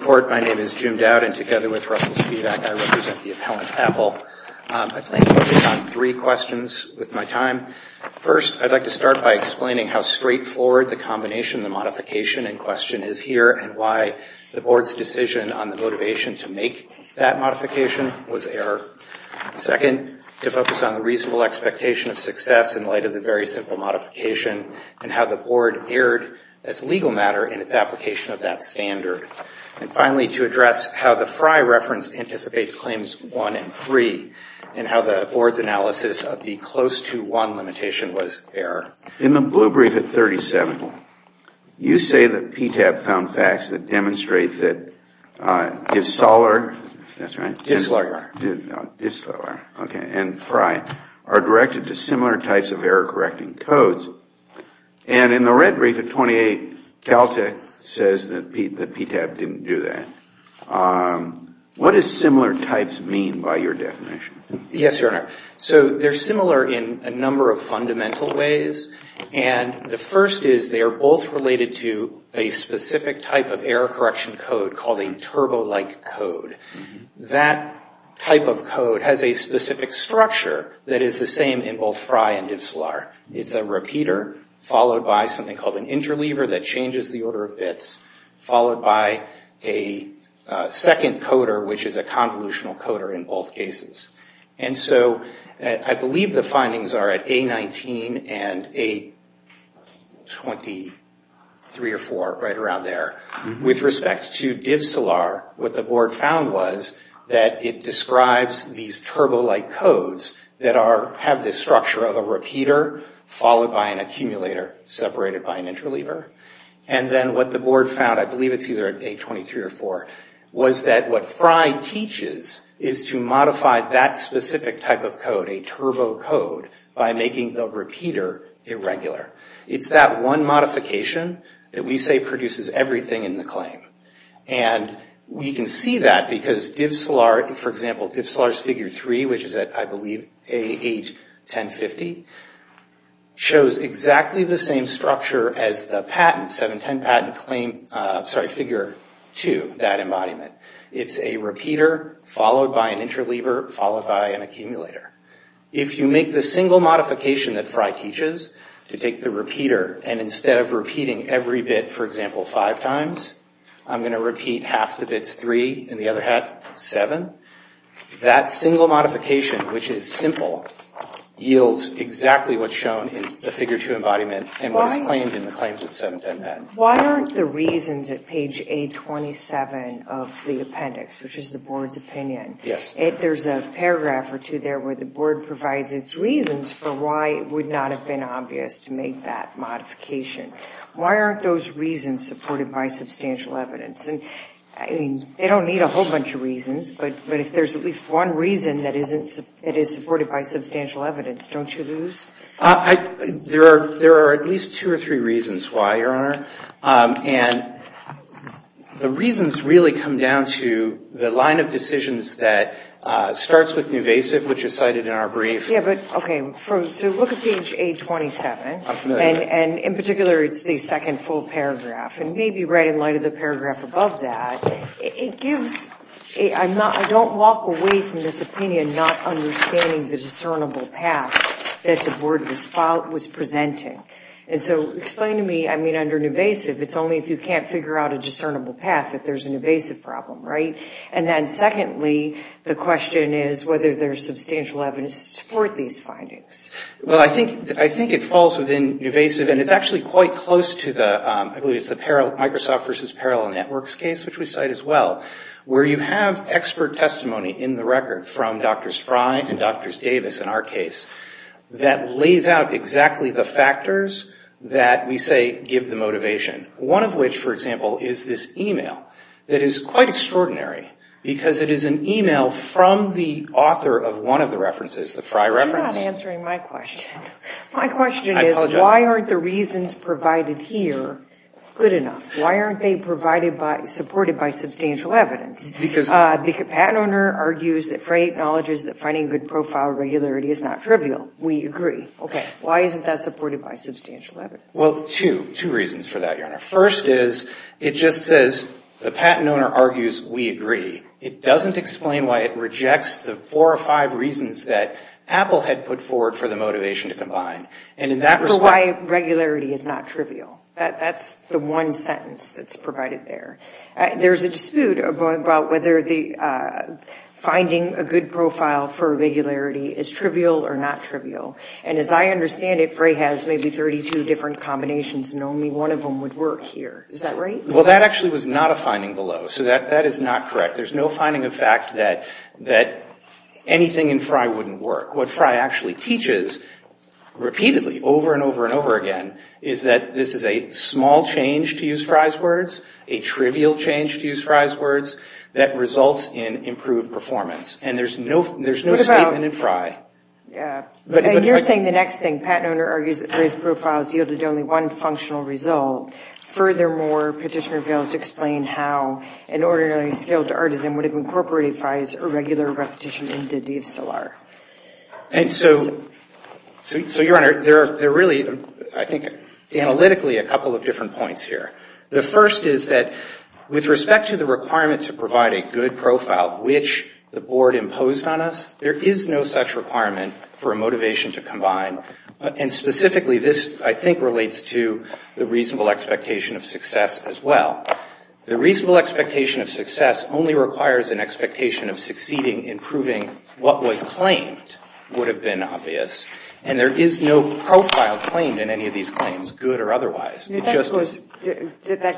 Court, my name is Jim Dowd, and together with Russell Spivak, I represent the appellant I plan to focus on three questions with my time. First, I'd like to start by explaining how straightforward the combination of the modification in question is here and why the Board's decision on the motivation to make that modification was error. Second, to focus on the reasonable expectation of success in light of the very simple modification and how the Board erred as legal matter in its application of that standard. And finally, to address how the Frye reference anticipates claims one and three, and how the Board's analysis of the close to one limitation was error. In the blue brief at 37, you say that PTAB found facts that demonstrate that DiffSolar and Frye are directed to similar types of error correcting codes. And in the red brief at 28, Caltech says that PTAB didn't do that. What does similar types mean by your definition? Yes, Your Honor. So they're similar in a number of fundamental ways. And the first is they are both related to a specific type of error correction code called a turbo-like code. That type of code has a specific structure that is the same in both Frye and DiffSolar. It's a repeater followed by something called an interleaver that changes the order of bits, followed by a second coder which is a convolutional coder in both cases. And so I believe the findings are at A19 and A23 or 24, right around there. With respect to DiffSolar, what the Board found was that it describes these turbo-like codes that have this structure of a repeater followed by an accumulator separated by an interleaver. And then what the Board found, I believe it's either at A23 or 24, was that what Frye teaches is to modify that specific type of code, a turbo code, by making the repeater irregular. It's that one modification that we say produces everything in the claim. And we can see that because DiffSolar, for example, which is at, I believe, A8, 1050, shows exactly the same structure as the patent, 710 patent claim, sorry, figure 2, that embodiment. It's a repeater followed by an interleaver followed by an accumulator. If you make the single modification that Frye teaches to take the repeater and instead of repeating every bit, for example, five times, I'm going to make that modification, which is simple, yields exactly what's shown in the figure 2 embodiment and what is claimed in the claims of the 710 patent. Why aren't the reasons at page A27 of the appendix, which is the Board's opinion, there's a paragraph or two there where the Board provides its reasons for why it would not have been obvious to make that modification. Why aren't those reasons supported by substantial evidence? And I mean, they don't need a whole bunch of reasons, but if there's at least one reason that isn't, it is supported by substantial evidence, don't you lose? There are at least two or three reasons why, Your Honor. And the reasons really come down to the line of decisions that starts with nuvasive, which is cited in our brief. Yeah, but, okay, so look at page A27. I'm familiar with that. And in particular, it's the second full paragraph. And maybe right in light of the paragraph above that, it gives, I'm not, I don't walk away from this opinion not understanding the discernible path that the Board was presenting. And so explain to me, I mean, under nuvasive, it's only if you can't figure out a discernible path that there's a nuvasive problem, right? And then secondly, the question is whether there's substantial evidence to support these findings. Well, I think, I think it falls within nuvasive and it's actually quite close to the, I believe it's the Microsoft versus Parallel Networks case, which we cite as well, where you have expert testimony in the record from Drs. Frey and Drs. Davis in our case that lays out exactly the factors that we say give the motivation. One of which, for example, is this e-mail that is quite extraordinary because it is an e-mail from the author of one of the references, the Frey reference. You're not answering my question. I apologize. Why aren't the reasons provided here good enough? Why aren't they provided by, supported by substantial evidence? Because Because the patent owner argues that Frey acknowledges that finding good profile regularity is not trivial. We agree. Okay. Why isn't that supported by substantial evidence? Well, two, two reasons for that, Your Honor. First is, it just says the patent owner argues we agree. It doesn't explain why it rejects the four or five reasons that Apple had put forward for the motivation to combine. And in that response Frey regularity is not trivial. That's the one sentence that's provided there. There's a dispute about whether the finding a good profile for regularity is trivial or not trivial. And as I understand it, Frey has maybe 32 different combinations and only one of them would work here. Is that right? Well, that actually was not a finding below. So that is not correct. There's no finding of fact that anything in Frey wouldn't work. What Frey actually teaches repeatedly over and over and over again is that this is a small change to use Frey's words, a trivial change to use Frey's words, that results in improved performance. And there's no statement in Frey. Yeah. And you're saying the next thing, patent owner argues that Frey's profiles yielded only one functional result. Furthermore, petitioner fails to explain how an ordinary skilled artisan would have incorporated Frey's irregular repetition into DSLR. And so, Your Honor, there are really, I think, analytically a couple of different points here. The first is that with respect to the requirement to provide a good profile, which the Board imposed on us, there is no such requirement for a motivation to combine. And specifically, this, I think, relates to the reasonable expectation of success as well. The reasonable expectation of success only requires an expectation of succeeding in proving what was claimed would have been obvious. And there is no profile claimed in any of these claims, good or otherwise. That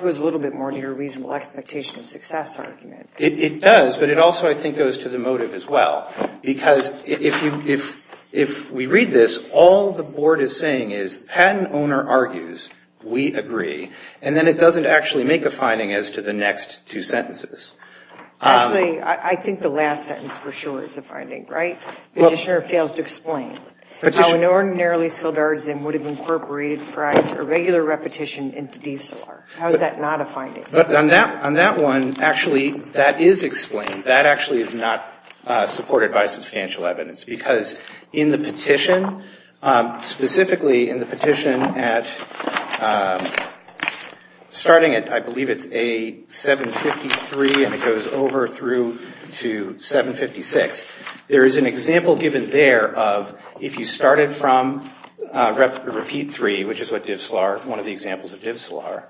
goes a little bit more to your reasonable expectation of success argument. It does, but it also, I think, goes to the motive as well. Because if we read this, all the Board is saying is, patent owner argues, we agree. And then it doesn't actually make a finding as to the next two sentences. Actually, I think the last sentence for sure is a finding, right? Petitioner fails to explain how an ordinarily skilled artisan would have incorporated Frey's irregular repetition into DSLR. How is that not a finding? But on that one, actually, that is explained. That actually is not supported by substantial evidence. Because in the petition, specifically in the petition at starting at, I believe it's A753 and it goes over through to 756, there is an example given there of if you started from repeat three, which is what DSLR, one of the examples of DSLR,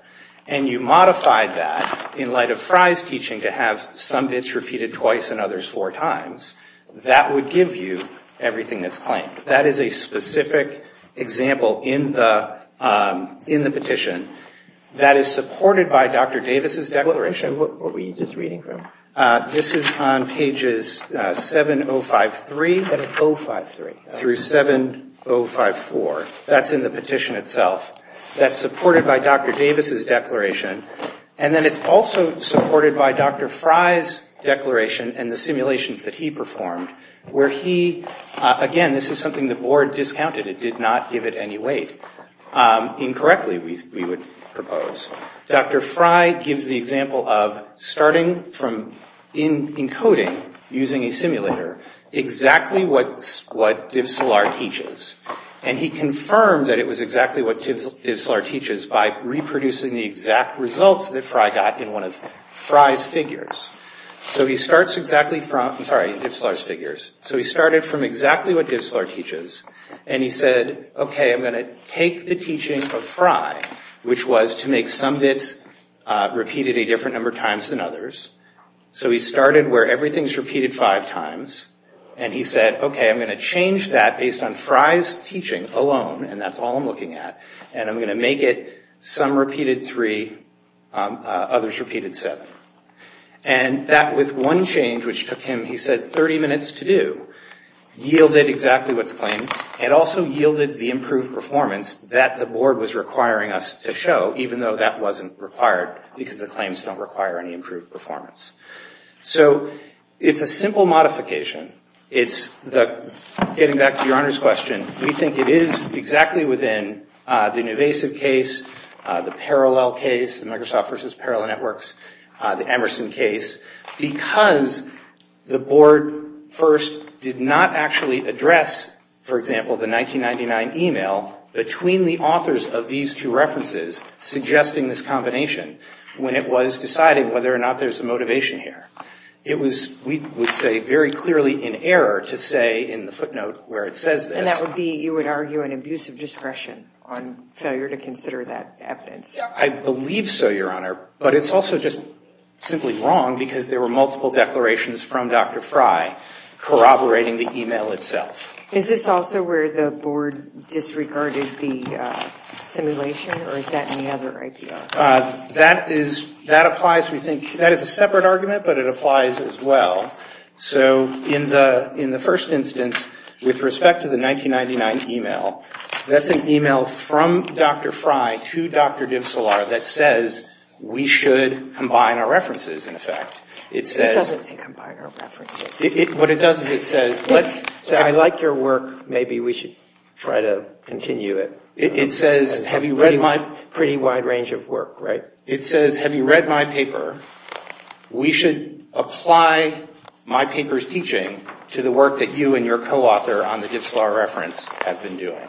and you modified that in light of Frey's teaching to have some bits repeated twice and others four times, that would give you everything that's claimed. That is a specific example in the petition that is supported by Dr. Davis's declaration. What were you just reading from? This is on pages 7053 through 7054. That's in the petition itself. That's supported by Dr. Davis's declaration. And then it's also supported by Dr. Frey's declaration and the simulations that he performed where he, again, this is something the board discounted. It did not give it any weight. Incorrectly, we would propose. Dr. Frey gives the example of starting from encoding using a simulator exactly what DSLR teaches. And he confirmed that it was exactly what DSLR teaches by reproducing the exact results that Frey got in one of his DSLR figures. So he started from exactly what DSLR teaches. And he said, okay, I'm going to take the teaching of Frey, which was to make some bits repeated a different number of times than others. So he started where everything's repeated five times. And he said, okay, I'm going to change that based on Frey's teaching alone, and that's all I'm looking at. And I'm going to make it some repeated three, others repeated seven. And that, with one change, which took him, he said, 30 minutes to do, yielded exactly what's claimed and also yielded the improved performance that the board was requiring us to show, even though that wasn't required because the claims don't require any improved performance. So it's a simple modification. It's the, getting back to Your Honor's question, we think it is exactly within the Nuvasiv case, the Parallel case, the Microsoft versus Parallel Networks, the Emerson case, because the board first did not actually address, for example, the 1999 e-mail between the authors of these two references suggesting this combination when it was deciding whether or not there's a motivation here. It was, we would say, very clearly in error to say in the footnote where it says this. And that would be, you would argue, an abuse of discretion on failure to consider that evidence. I believe so, Your Honor. But it's also just simply wrong because there were multiple declarations from Dr. Fry corroborating the e-mail itself. Is this also where the board disregarded the simulation or is that any other idea? That is, that applies, we think, that is a separate argument, but it applies as well. So in the, in the first instance, with respect to the 1999 e-mail, that's an e-mail from Dr. Fry to Dr. Divsilar that says we should combine our references, in effect. It says What does it say, combine our references? What it does is it says, let's Say, I like your work, maybe we should try to continue it. It says, have you read my It's a pretty wide range of work, right? It says, have you read my paper? We should apply my paper's teaching to the work that you and your co-author on the Divsilar reference have been doing.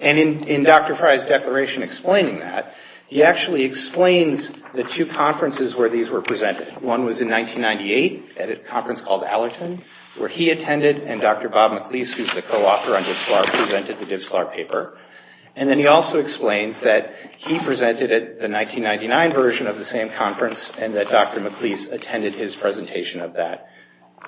And in Dr. Fry's declaration explaining that, he actually explains the two conferences where these were presented. One was in 1998 at a conference called Allerton, where he attended and Dr. Bob McLeese, who's the co-author on Divsilar, presented the Divsilar paper. And then he also explains that he presented it, the 1999 version of the same conference, and that Dr. McLeese attended his presentation of that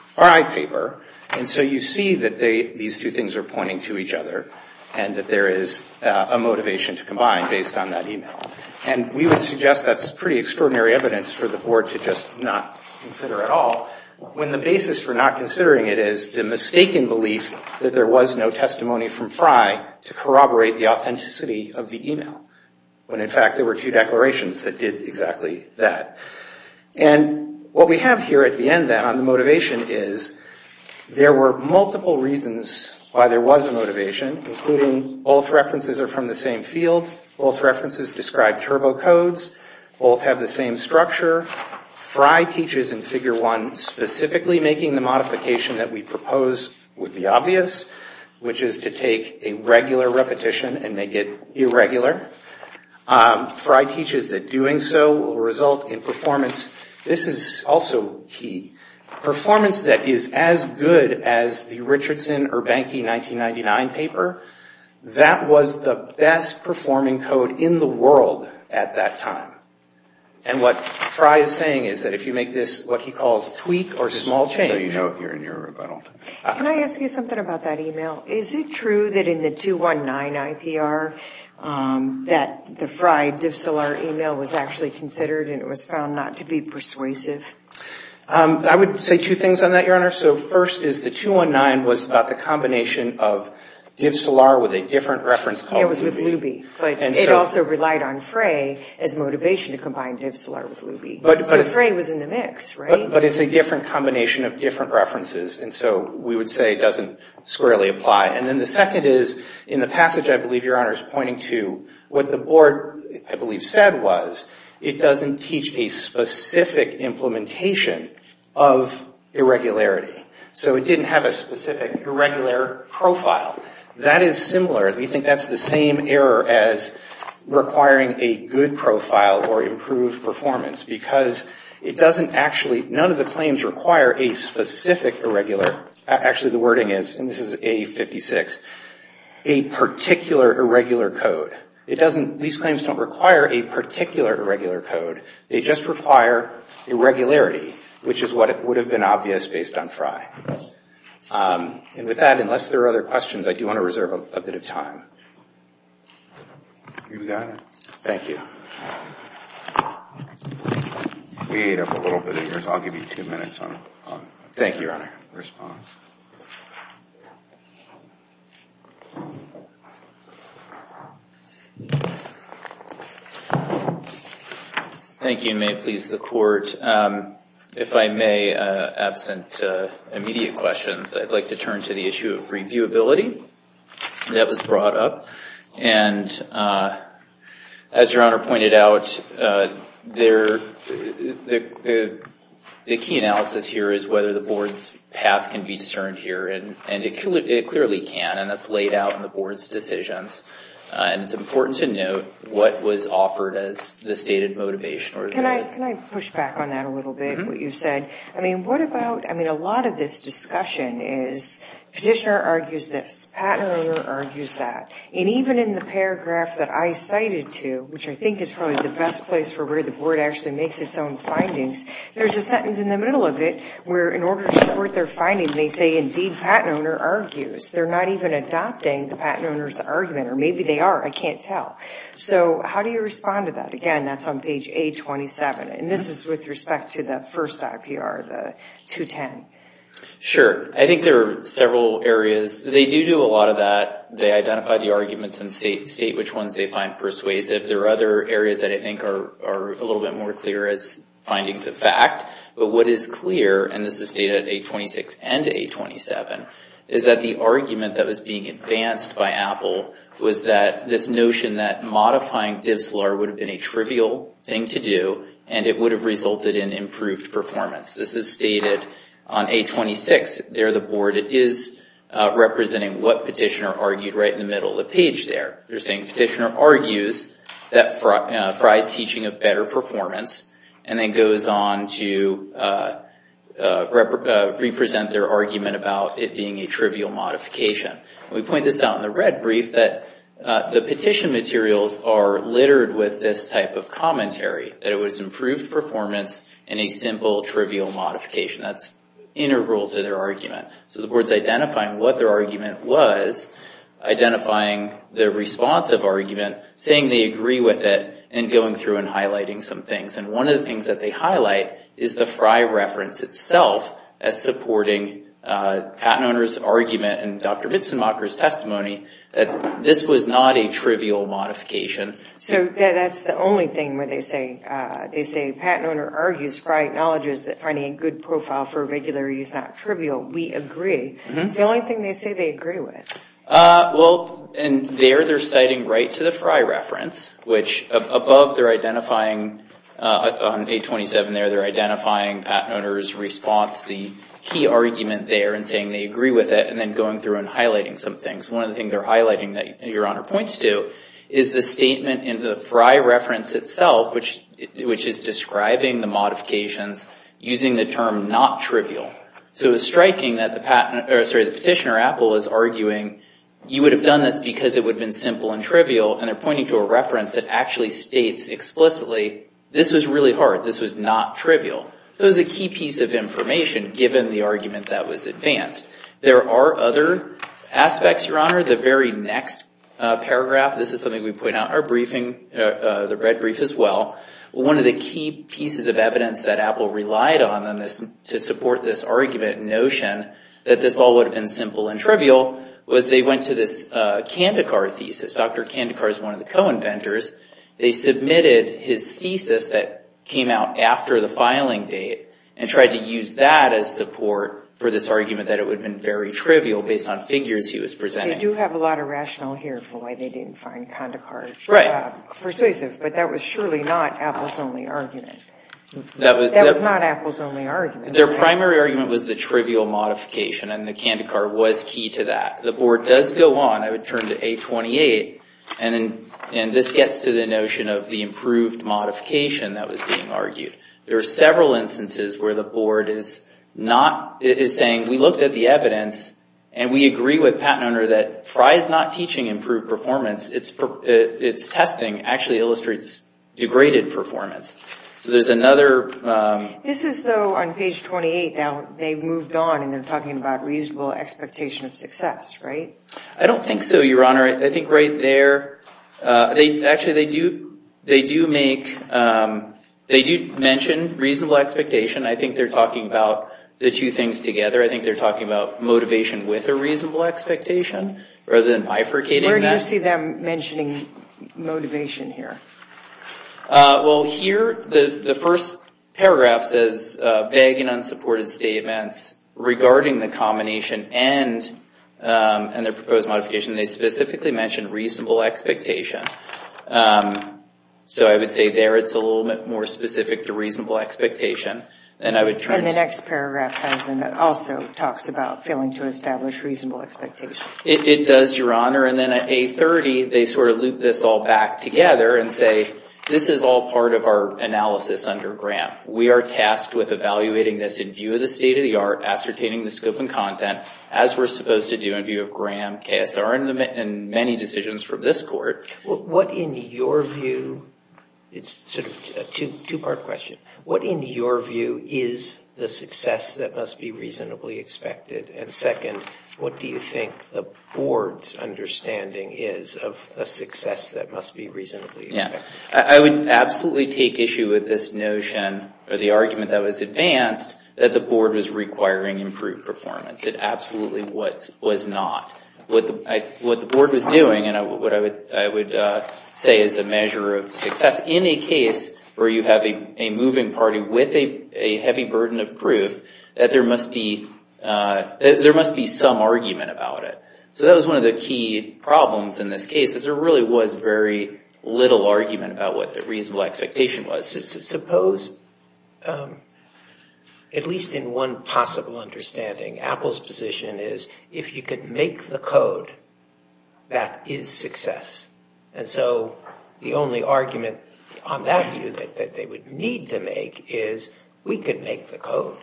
Fry paper. And so you see that these two things are pointing to each other, and that there is a motivation to combine based on that email. And we would suggest that's pretty extraordinary evidence for the board to just not consider at all, when the basis for not considering it is the mistaken belief that there was no testimony from Fry to corroborate the authenticity of the email, when in fact there were two declarations that did exactly that. And what we have here at the end then on the motivation is, there were multiple reasons why there was a motivation, including both references are from the same field, both references describe turbo codes, both have the same structure. Fry teaches in Figure 1 specifically making the modification that we propose would be obvious, which is to take a regular repetition and make it irregular. Fry teaches that doing so will result in performance. This is also key. Performance that is as good as the Richardson or Bankey 1999 paper, that was the best performing code in the world at that time. And what Fry is saying is that if you make this what he calls tweak or small change. Can I ask you something about that email? Is it true that in the 219 IPR that the Fry DivSolar email was actually considered and it was found not to be persuasive? I would say two things on that, Your Honor. So first is the 219 was about the combination of DivSolar with a different reference called Luby. It was with Luby, but it also relied on Fry as motivation to combine DivSolar with Luby. So Fry was in the mix, right? But it's a different combination of different references. And so we would say it doesn't squarely apply. And then the second is in the passage I believe Your Honor is pointing to what the board I believe said was it doesn't teach a specific implementation of irregularity. So it didn't have a specific irregular profile. That is similar. We think that's the same error as requiring a good profile or improved performance because it doesn't actually, none of the claims require a specific irregular, actually the wording is, and this is A56, a particular irregular code. It doesn't, these claims don't require a particular irregular code. They just require irregularity, which is what would have been obvious based on Fry. And with that, unless there are other questions, I do want to reserve a bit of time. You've got it. Thank you. We ate up a little bit of yours. I'll give you two minutes on it. Thank you, Your Honor. Respond. Thank you, and may it please the court. If I may, absent immediate questions, I'd like to turn to the issue of reviewability that was brought up. And as Your Honor pointed out, the key analysis here is whether the board's path can be taken to reviewability and I'm concerned here, and it clearly can, and that's laid out in the board's decisions. And it's important to note what was offered as the stated motivation. Can I push back on that a little bit, what you said? I mean, what about, I mean, a lot of this discussion is petitioner argues this, patent owner argues that, and even in the paragraph that I cited to, which I think is probably the best place for where the board actually makes its own findings, there's a sentence in the middle of it where in order to support their finding, they say, indeed, patent owner argues. They're not even adopting the patent owner's argument, or maybe they are, I can't tell. So how do you respond to that? Again, that's on page A27, and this is with respect to the first IPR, the 210. Sure. I think there are several areas. They do do a lot of that. They identify the arguments and state which ones they find persuasive. There are other areas that I think are a little bit more clear as findings of fact. But what is clear, and this is stated at A26 and A27, is that the argument that was being advanced by Apple was that this notion that modifying DivSolar would have been a trivial thing to do, and it would have resulted in improved performance. This is stated on A26. There, the board is representing what petitioner argued right in the middle of the page there. They're saying petitioner argues that Fry's teaching of better performance, and then goes on to represent their argument about it being a trivial modification. We point this out in the red brief that the petition materials are littered with this type of commentary, that it was improved performance and a simple, trivial modification. That's integral to their argument. So the board's identifying what their argument was, identifying the responsive argument, saying they agree with it, and going through and highlighting some things. And one of the things that they highlight is the Fry reference itself as supporting patent owner's argument and Dr. Mitzenmacher's testimony that this was not a trivial modification. So that's the only thing where they say, they say, patent owner argues Fry acknowledges that finding a good profile for regularity is not trivial. We agree. It's the only thing they say they agree with. Well, and there they're citing right to the Fry reference, which above they're identifying on page 27 there, they're identifying patent owner's response, the key argument there, and saying they agree with it, and then going through and highlighting some things. One of the things they're highlighting that Your Honor points to is the statement in the Fry reference itself, which is describing the modifications using the term not trivial. So it's striking that the petitioner, Apple, is arguing you would have done this because it would have been simple and trivial, and they're pointing to a reference that actually states explicitly this was really hard. This was not trivial. So it was a key piece of information given the argument that was advanced. There are other aspects, Your Honor. The very next paragraph, this is something we point out in our briefing, the red brief as well. One of the key pieces of evidence that Apple relied on to support this argument and notion that this all would have been simple and trivial was they went to this Kandekar thesis. Dr. Kandekar is one of the co-inventors. They submitted his thesis that came out after the filing date and tried to use that as support for this argument that it would have been very trivial based on figures he was presenting. They do have a lot of rationale here for why they didn't find Kandekar persuasive, but that was surely not Apple's only argument. That was not Apple's only argument. Their primary argument was the trivial modification, and the Kandekar was key to that. The Board does go on. I would turn to A-28, and this gets to the notion of the improved modification that was being argued. There are several instances where the Board is saying, we looked at the evidence and we agree with Pat Noehner that Frye is not teaching improved performance. It's testing actually illustrates degraded performance, so there's another... This is, though, on page 28, they've moved on and they're talking about reasonable expectation of success, right? I don't think so, Your Honor. I think right there, actually, they do mention reasonable expectation. I think they're talking about the two things together. I think they're talking about motivation with a reasonable expectation rather than bifurcating that. Where do you see them mentioning motivation here? Well, here, the first paragraph says, vague and unsupported statements regarding the combination and the proposed modification. They specifically mention reasonable expectation. So I would say there it's a little bit more specific to reasonable expectation. And the next paragraph also talks about failing to establish reasonable expectation. It does, Your Honor. And then at A30, they sort of loop this all back together and say, this is all part of our analysis under Graham. We are tasked with evaluating this in view of the state of the art, ascertaining the scope and content, as we're supposed to do in view of Graham, KSR, and many decisions from this court. What in your view... It's sort of a two-part question. What in your view is the success that must be reasonably expected? And second, what do you think the board's understanding is of a success that must be reasonably expected? I would absolutely take issue with this notion, or the argument that was advanced, that the board was requiring improved performance. It absolutely was not. What the board was doing, and what I would say is a measure of success. In a case where you have a moving party with a heavy burden of proof, that there must be some argument about it. So that was one of the key problems in this case, is there really was very little argument about what the reasonable expectation was. Suppose, at least in one possible understanding, Apple's position is, if you could make the code, that is success. And so the only argument on that view that they would need to make is, we could make the code.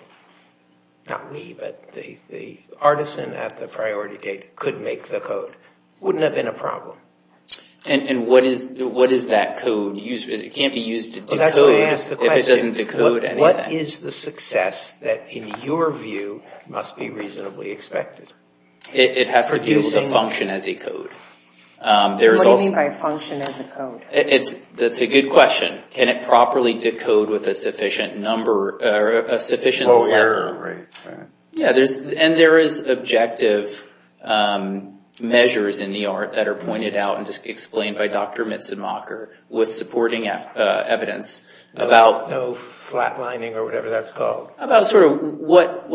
Not we, but the artisan at the priority date could make the code. Wouldn't have been a problem. And what is that code? It can't be used to decode if it doesn't decode anything. What is the success that, in your view, must be reasonably expected? It has to be able to function as a code. What do you mean by function as a code? That's a good question. Can it properly decode with a sufficient number, or a sufficient level? Oh, error, right. Yeah, and there is objective measures in the art that are pointed out and just explained by Dr. Mitzenmacher with supporting evidence about... No flatlining or whatever that's called. About sort of what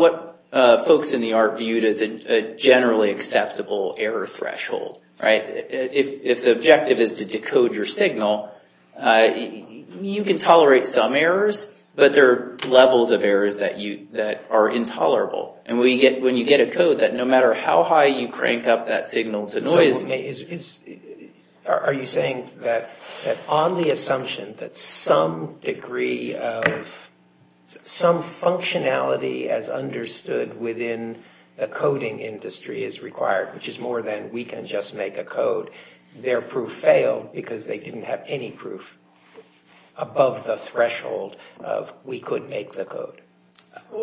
folks in the art viewed as a generally acceptable error threshold. Right? If the objective is to decode your signal, you can tolerate some errors, but there are levels of errors that are intolerable. And when you get a code that no matter how high you crank up that signal to noise... Are you saying that on the assumption that some degree of, some functionality as understood within the coding industry is required, which is more than we can just make a code, their proof failed because they didn't have any proof above the threshold of we could make the code?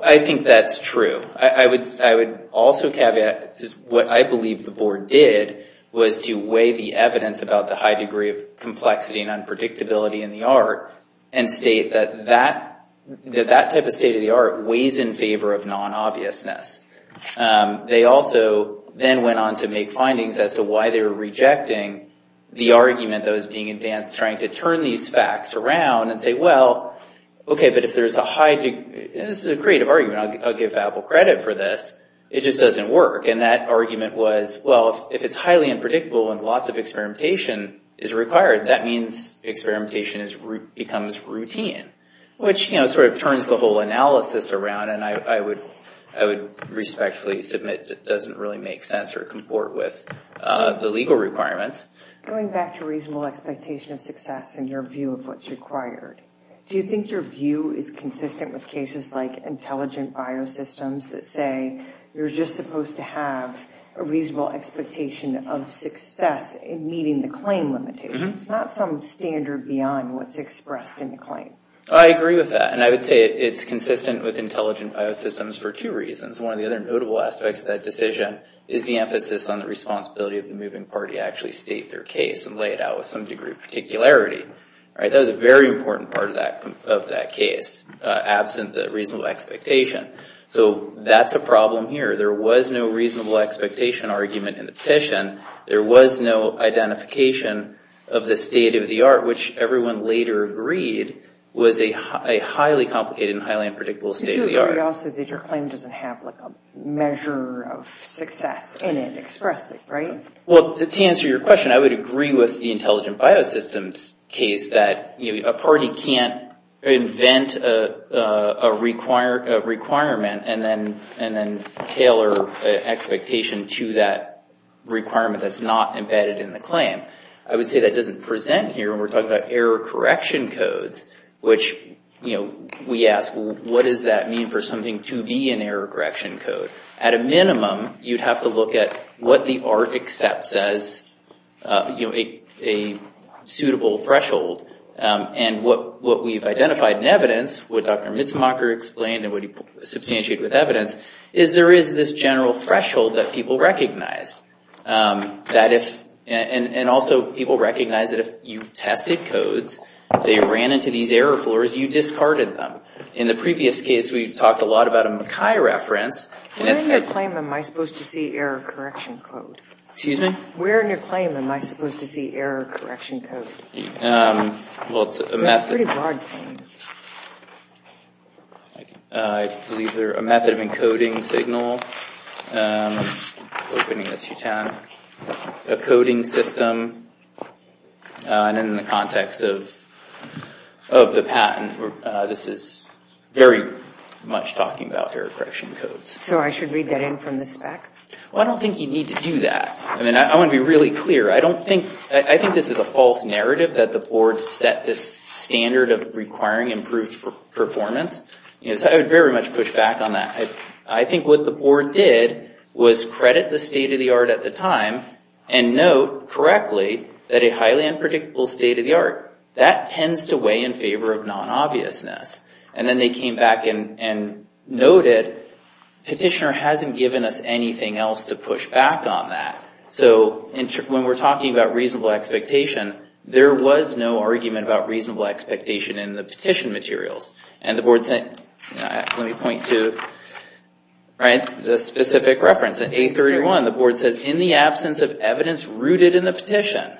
I think that's true. I would also caveat what I believe the board did was to weigh the evidence about the high degree of complexity and unpredictability in the art and state that that type of state of the art weighs in favor of non-obviousness. They also then went on to make findings as to why they were rejecting the argument that was being advanced, trying to turn these facts around and say, well, okay, but if there's a high degree, and this is a creative argument, I'll give Apple credit for this. It just doesn't work. And that argument was, well, if it's highly unpredictable and lots of experimentation is required, that means experimentation becomes routine, which, you know, sort of turns the whole analysis around, and I would respectfully submit it doesn't really make sense or comport with the legal requirements. Going back to reasonable expectation of success and your view of what's required, do you think your view is consistent with cases like intelligent bio-systems that say you're just supposed to have a reasonable expectation of success in meeting the claim limitations, not some standard beyond what's expressed in the claim? I agree with that, and I would say it's consistent with intelligent bio-systems for two reasons. One of the other notable aspects of that decision is the emphasis on the responsibility of the moving party to actually state their case and lay it out with some degree of particularity. That was a very important part of that case, absent the reasonable expectation. So that's a problem here. There was no reasonable expectation argument in the petition. There was no identification of the state of the art, which everyone later agreed was a highly complicated and highly unpredictable state of the art. Did you agree also that your claim doesn't have, like, a measure of success in it expressly, right? Well, to answer your question, I would agree with the intelligent bio-systems case that a party can't invent a requirement and then tailor expectation to that requirement that's not embedded in the claim. I would say that doesn't present here when we're talking about error correction codes, which we ask, what does that mean for something to be an error correction code? At a minimum, you'd have to look at what the art accepts as a suitable threshold, and what we've identified in evidence, what Dr. Mitzmacher explained and what he substantiated with evidence, is there is this general threshold that people recognize. And also, people recognize that if you tested codes, they ran into these error floors, you discarded them. In the previous case, we talked a lot about a Mackay reference. Where in your claim am I supposed to see error correction code? Excuse me? Where in your claim am I supposed to see error correction code? Well, it's a method. It's a pretty broad thing. I believe they're a method of encoding signal, opening a coding system. And in the context of the patent, this is very much talking about error correction codes. So I should read that in from the spec? Well, I don't think you need to do that. I mean, I want to be really clear. I think this is a false narrative that the board set this standard of requiring improved performance. I would very much push back on that. I think what the board did was credit the state-of-the-art at the time, and note correctly that a highly unpredictable state-of-the-art, that tends to weigh in favor of non-obviousness. And then they came back and noted, petitioner hasn't given us anything else to push back on that. So when we're talking about reasonable expectation, there was no argument about reasonable expectation in the petition materials. Let me point to the specific reference. In A31, the board says, in the absence of evidence rooted in the petition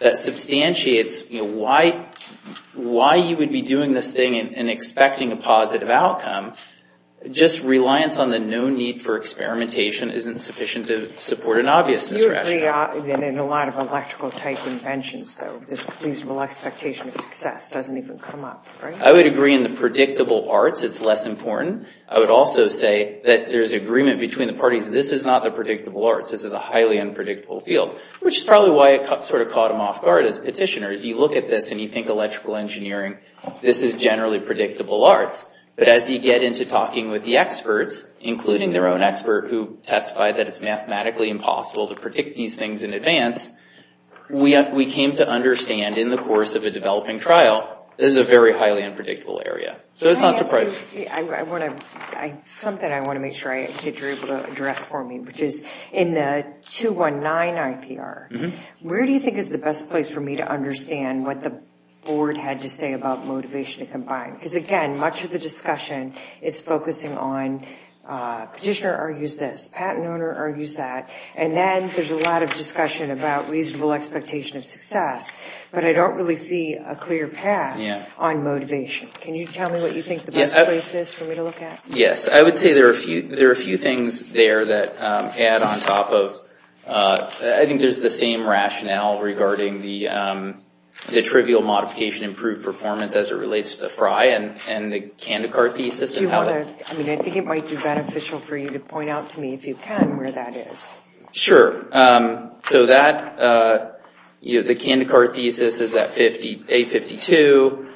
that substantiates why you would be doing this thing and expecting a positive outcome, just reliance on the no need for experimentation isn't sufficient to support an obviousness rationale. You agree in a lot of electrical-type inventions, though, this reasonable expectation of success doesn't even come up, right? I would agree in the predictable arts it's less important. I would also say that there's agreement between the parties. This is not the predictable arts. This is a highly unpredictable field, which is probably why it sort of caught them off guard as petitioners. You look at this and you think electrical engineering, this is generally predictable arts. But as you get into talking with the experts, including their own expert, who testified that it's mathematically impossible to predict these things in advance, we came to understand in the course of a developing trial, this is a very highly unpredictable area. So it's not surprising. Something I want to make sure I get you able to address for me, which is in the 219 IPR, where do you think is the best place for me to understand what the board had to say about motivation to combine? Because, again, much of the discussion is focusing on petitioner argues this, patent owner argues that, and then there's a lot of discussion about reasonable expectation of success. But I don't really see a clear path on motivation. Can you tell me what you think the best place is for me to look at? Yes, I would say there are a few things there that add on top of... I think it might be beneficial for you to point out to me, if you can, where that is. Sure. So the Kandikar thesis is at 852,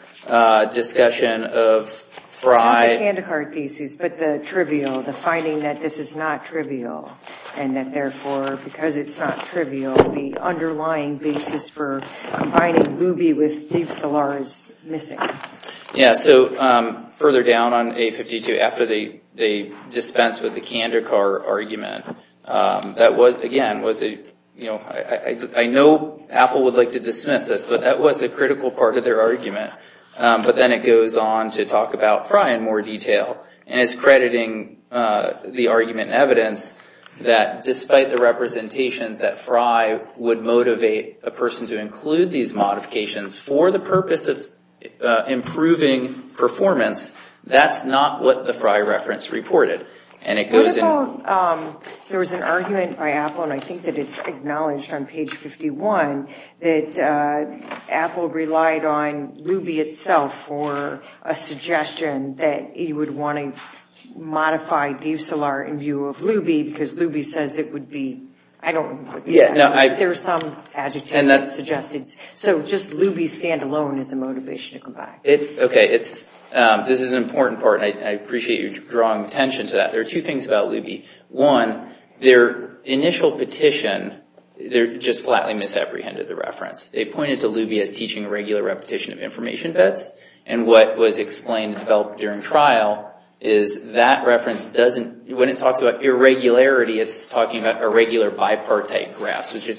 discussion of Frye... The Kandikar thesis, but the trivial, the finding that this is not trivial, and that therefore, because it's not trivial, the underlying basis for combining Luby with Steve Szilard is missing. Yes, so further down on 852, after they dispensed with the Kandikar argument, that was, again, was a, you know, I know Apple would like to dismiss this, but that was a critical part of their argument. But then it goes on to talk about Frye in more detail, and it's crediting the argument in evidence that despite the representations that Frye would motivate a person to include these modifications for the purpose of improving performance, that's not what the Frye reference reported. And it goes in... What about, there was an argument by Apple, and I think that it's acknowledged on page 51, that Apple relied on Luby itself for a suggestion that he would want to modify Steve Szilard in view of Luby, because Luby says it would be... I don't know what this is. There was some adjective that suggested... And that's... So just Luby standalone is a motivation to come back. Okay, this is an important part, and I appreciate you drawing attention to that. There are two things about Luby. One, their initial petition just flatly misapprehended the reference. They pointed to Luby as teaching a regular repetition of information bets, and what was explained and developed during trial is that reference doesn't... which is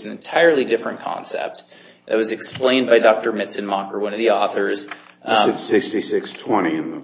an entirely different concept. It was explained by Dr. Mitzenmacher, one of the authors. Is it 6620 in the...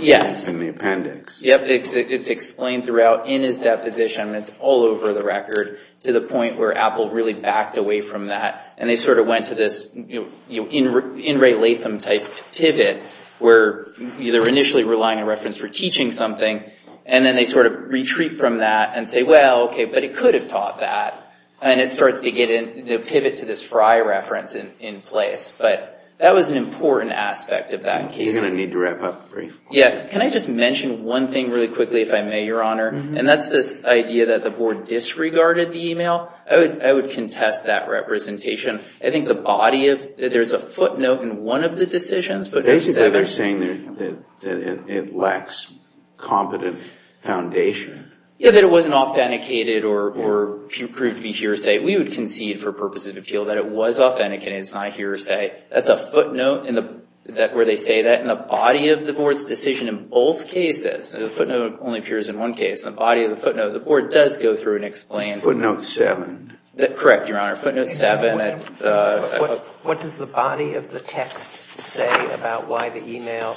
Yes. In the appendix. Yep, it's explained throughout in his deposition, and it's all over the record, to the point where Apple really backed away from that, and they sort of went to this In Ray Latham type pivot, where they're initially relying on reference for teaching something, and then they sort of retreat from that and say, well, okay, but it could have taught that. And it starts to get in... to pivot to this Frye reference in place. But that was an important aspect of that case. You're going to need to wrap up briefly. Yeah. Can I just mention one thing really quickly, if I may, Your Honor? And that's this idea that the board disregarded the email. I would contest that representation. I think the body of... There's a footnote in one of the decisions, but... Yeah, that it wasn't authenticated or proved to be hearsay. We would concede for purposes of appeal that it was authenticated. It's not hearsay. That's a footnote where they say that in the body of the board's decision in both cases. The footnote only appears in one case. In the body of the footnote, the board does go through and explain... Footnote 7. Correct, Your Honor. Footnote 7. What does the body of the text say about why the email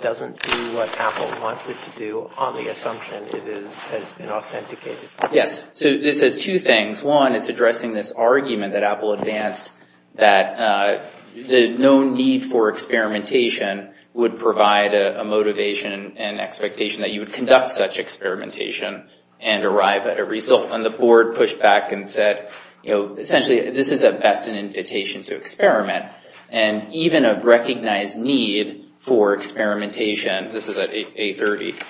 doesn't do what Apple wants it to do based on the assumption it has been authenticated? Yes. It says two things. One, it's addressing this argument that Apple advanced that no need for experimentation would provide a motivation and expectation that you would conduct such experimentation and arrive at a result. And the board pushed back and said, essentially, this is at best an invitation to experiment. And even a recognized need for experimentation... This is at A30....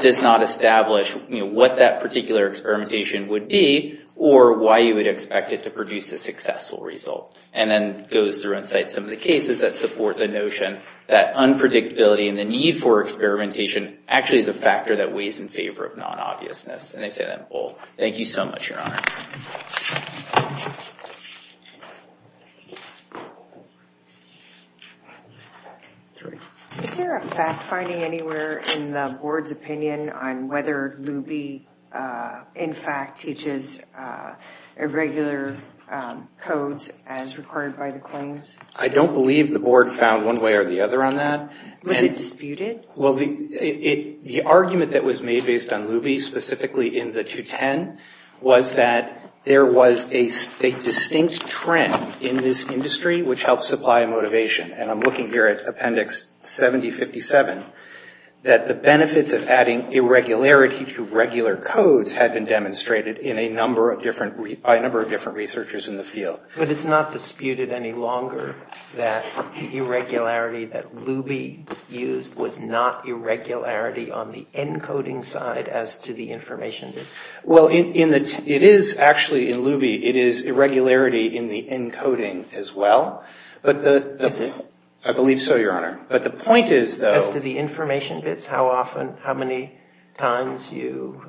does not establish what that particular experimentation would be or why you would expect it to produce a successful result. And then goes through and cites some of the cases that support the notion that unpredictability and the need for experimentation actually is a factor that weighs in favor of non-obviousness. And they say that in both. Thank you so much, Your Honor. Is there a fact-finding anywhere in the board's opinion on whether Luby, in fact, teaches irregular codes as required by the claims? I don't believe the board found one way or the other on that. Was it disputed? Well, the argument that was made based on Luby, specifically in the 210, was that there was a distinct trend in this industry which helps supply motivation. And I'm looking here at Appendix 7057, that the benefits of adding irregularity to regular codes had been demonstrated by a number of different researchers in the field. But it's not disputed any longer that the irregularity that Luby used was not irregularity on the encoding side as to the information? Well, it is actually in Luby. It is irregularity in the encoding as well. I believe so, Your Honor. But the point is, though... As to the information bits? How often, how many times you,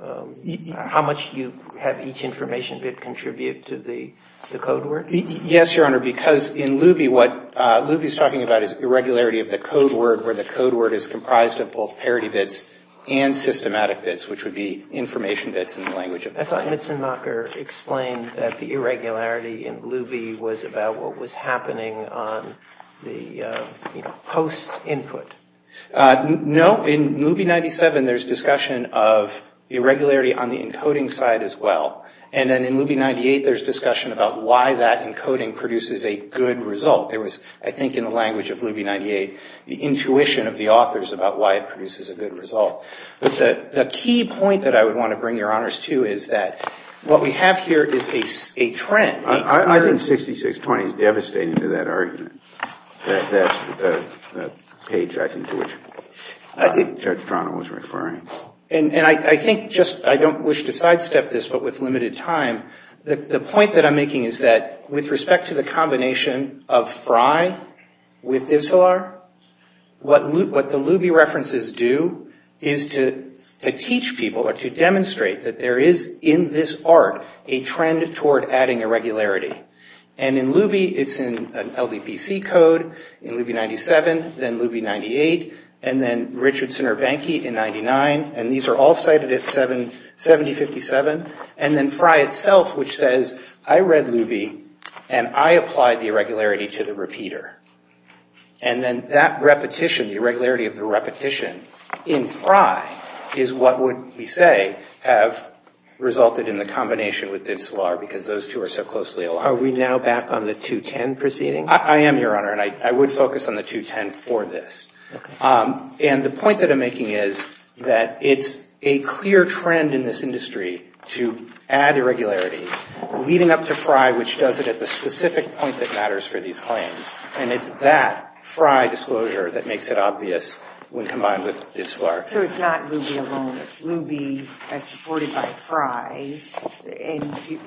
how much you have each information bit contribute to the code word? Yes, Your Honor, because in Luby, what Luby is talking about is irregularity of the code word where the code word is comprised of both parity bits and systematic bits, which would be information bits in the language of the client. I thought Mitzenmacher explained that the irregularity in Luby was about what was happening on the post-input. No. In Luby 97, there's discussion of irregularity on the encoding side as well. And then in Luby 98, there's discussion about why that encoding produces a good result. There was, I think, in the language of Luby 98, the intuition of the authors about why it produces a good result. But the key point that I would want to bring Your Honors to is that what we have here is a trend. I think 6620 is devastating to that argument. That page, I think, to which Judge Toronto was referring. And I think just, I don't wish to sidestep this, but with limited time, the point that I'm making is that, with respect to the combination of Frye with Ivselar, what the Luby references do is to teach people, or to demonstrate that there is, in this art, a trend toward adding irregularity. And in Luby, it's in an LDPC code, in Luby 97, then Luby 98, and then Richardson or Bankey in 99. And these are all cited at 7057. And then Frye itself, which says, I read Luby, and I applied the irregularity to the repeater. And then that repetition, the irregularity of the repetition, in Frye is what would, we say, have resulted in the combination with Ivselar, because those two are so closely aligned. Are we now back on the 210 proceeding? I am, Your Honor, and I would focus on the 210 for this. Okay. And the point that I'm making is that it's a clear trend in this industry to add irregularity, leading up to Frye, which does it at the specific point that matters for these claims. And it's that Frye disclosure that makes it obvious when combined with Ivselar. So it's not Luby alone. It's Luby as supported by Frye. And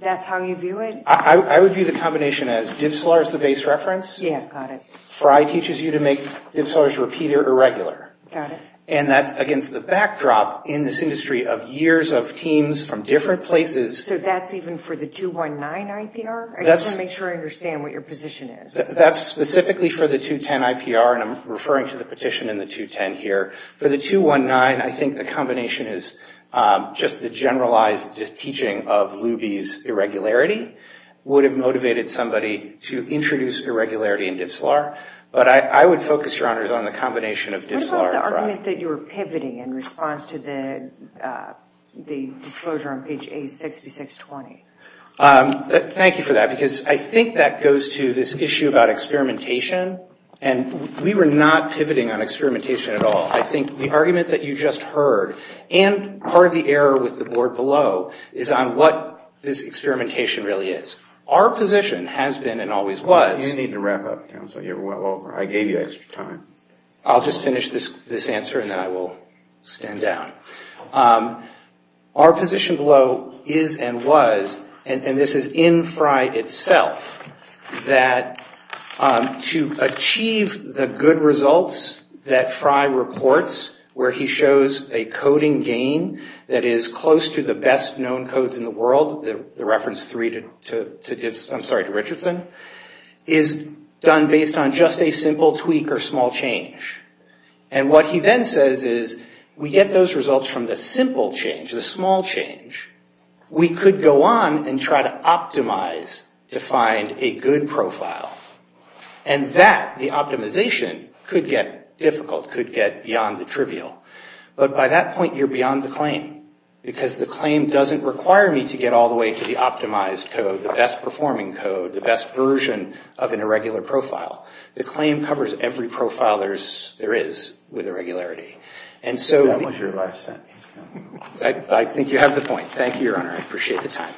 that's how you view it? I would view the combination as Ivselar is the base reference. Yeah, got it. Frye teaches you to make Ivselar's repeater irregular. Got it. And that's against the backdrop in this industry of years of teams from different places. So that's even for the 219 IPR? I just want to make sure I understand what your position is. That's specifically for the 210 IPR, and I'm referring to the petition in the 210 here. For the 219, I think the combination is just the generalized teaching of Luby's irregularity would have motivated somebody to introduce irregularity in Ivselar. But I would focus, Your Honors, on the combination of Ivselar and Frye. What about the argument that you were pivoting in response to the disclosure on page 86620? Thank you for that, because I think that goes to this issue about experimentation. And we were not pivoting on experimentation at all. I think the argument that you just heard and part of the error with the board below is on what this experimentation really is. Our position has been and always was... You need to wrap up, counsel. You're well over. I gave you extra time. I'll just finish this answer, and then I will stand down. Our position below is and was, and this is in Frye itself, that to achieve the good results that Frye reports, where he shows a coding gain that is close to the best known codes in the world, the reference 3 to Richardson, is done based on just a simple tweak or small change. And what he then says is, we get those results from the simple change, the small change. We could go on and try to optimize to find a good profile. And that, the optimization, could get difficult, could get beyond the trivial. But by that point, you're beyond the claim, because the claim doesn't require me to get all the way to the optimized code, the best performing code, the best version of an irregular profile. The claim covers every profile there is with irregularity. And so... That was your last sentence. I think you have the point. Thank you, Your Honor. I appreciate the time.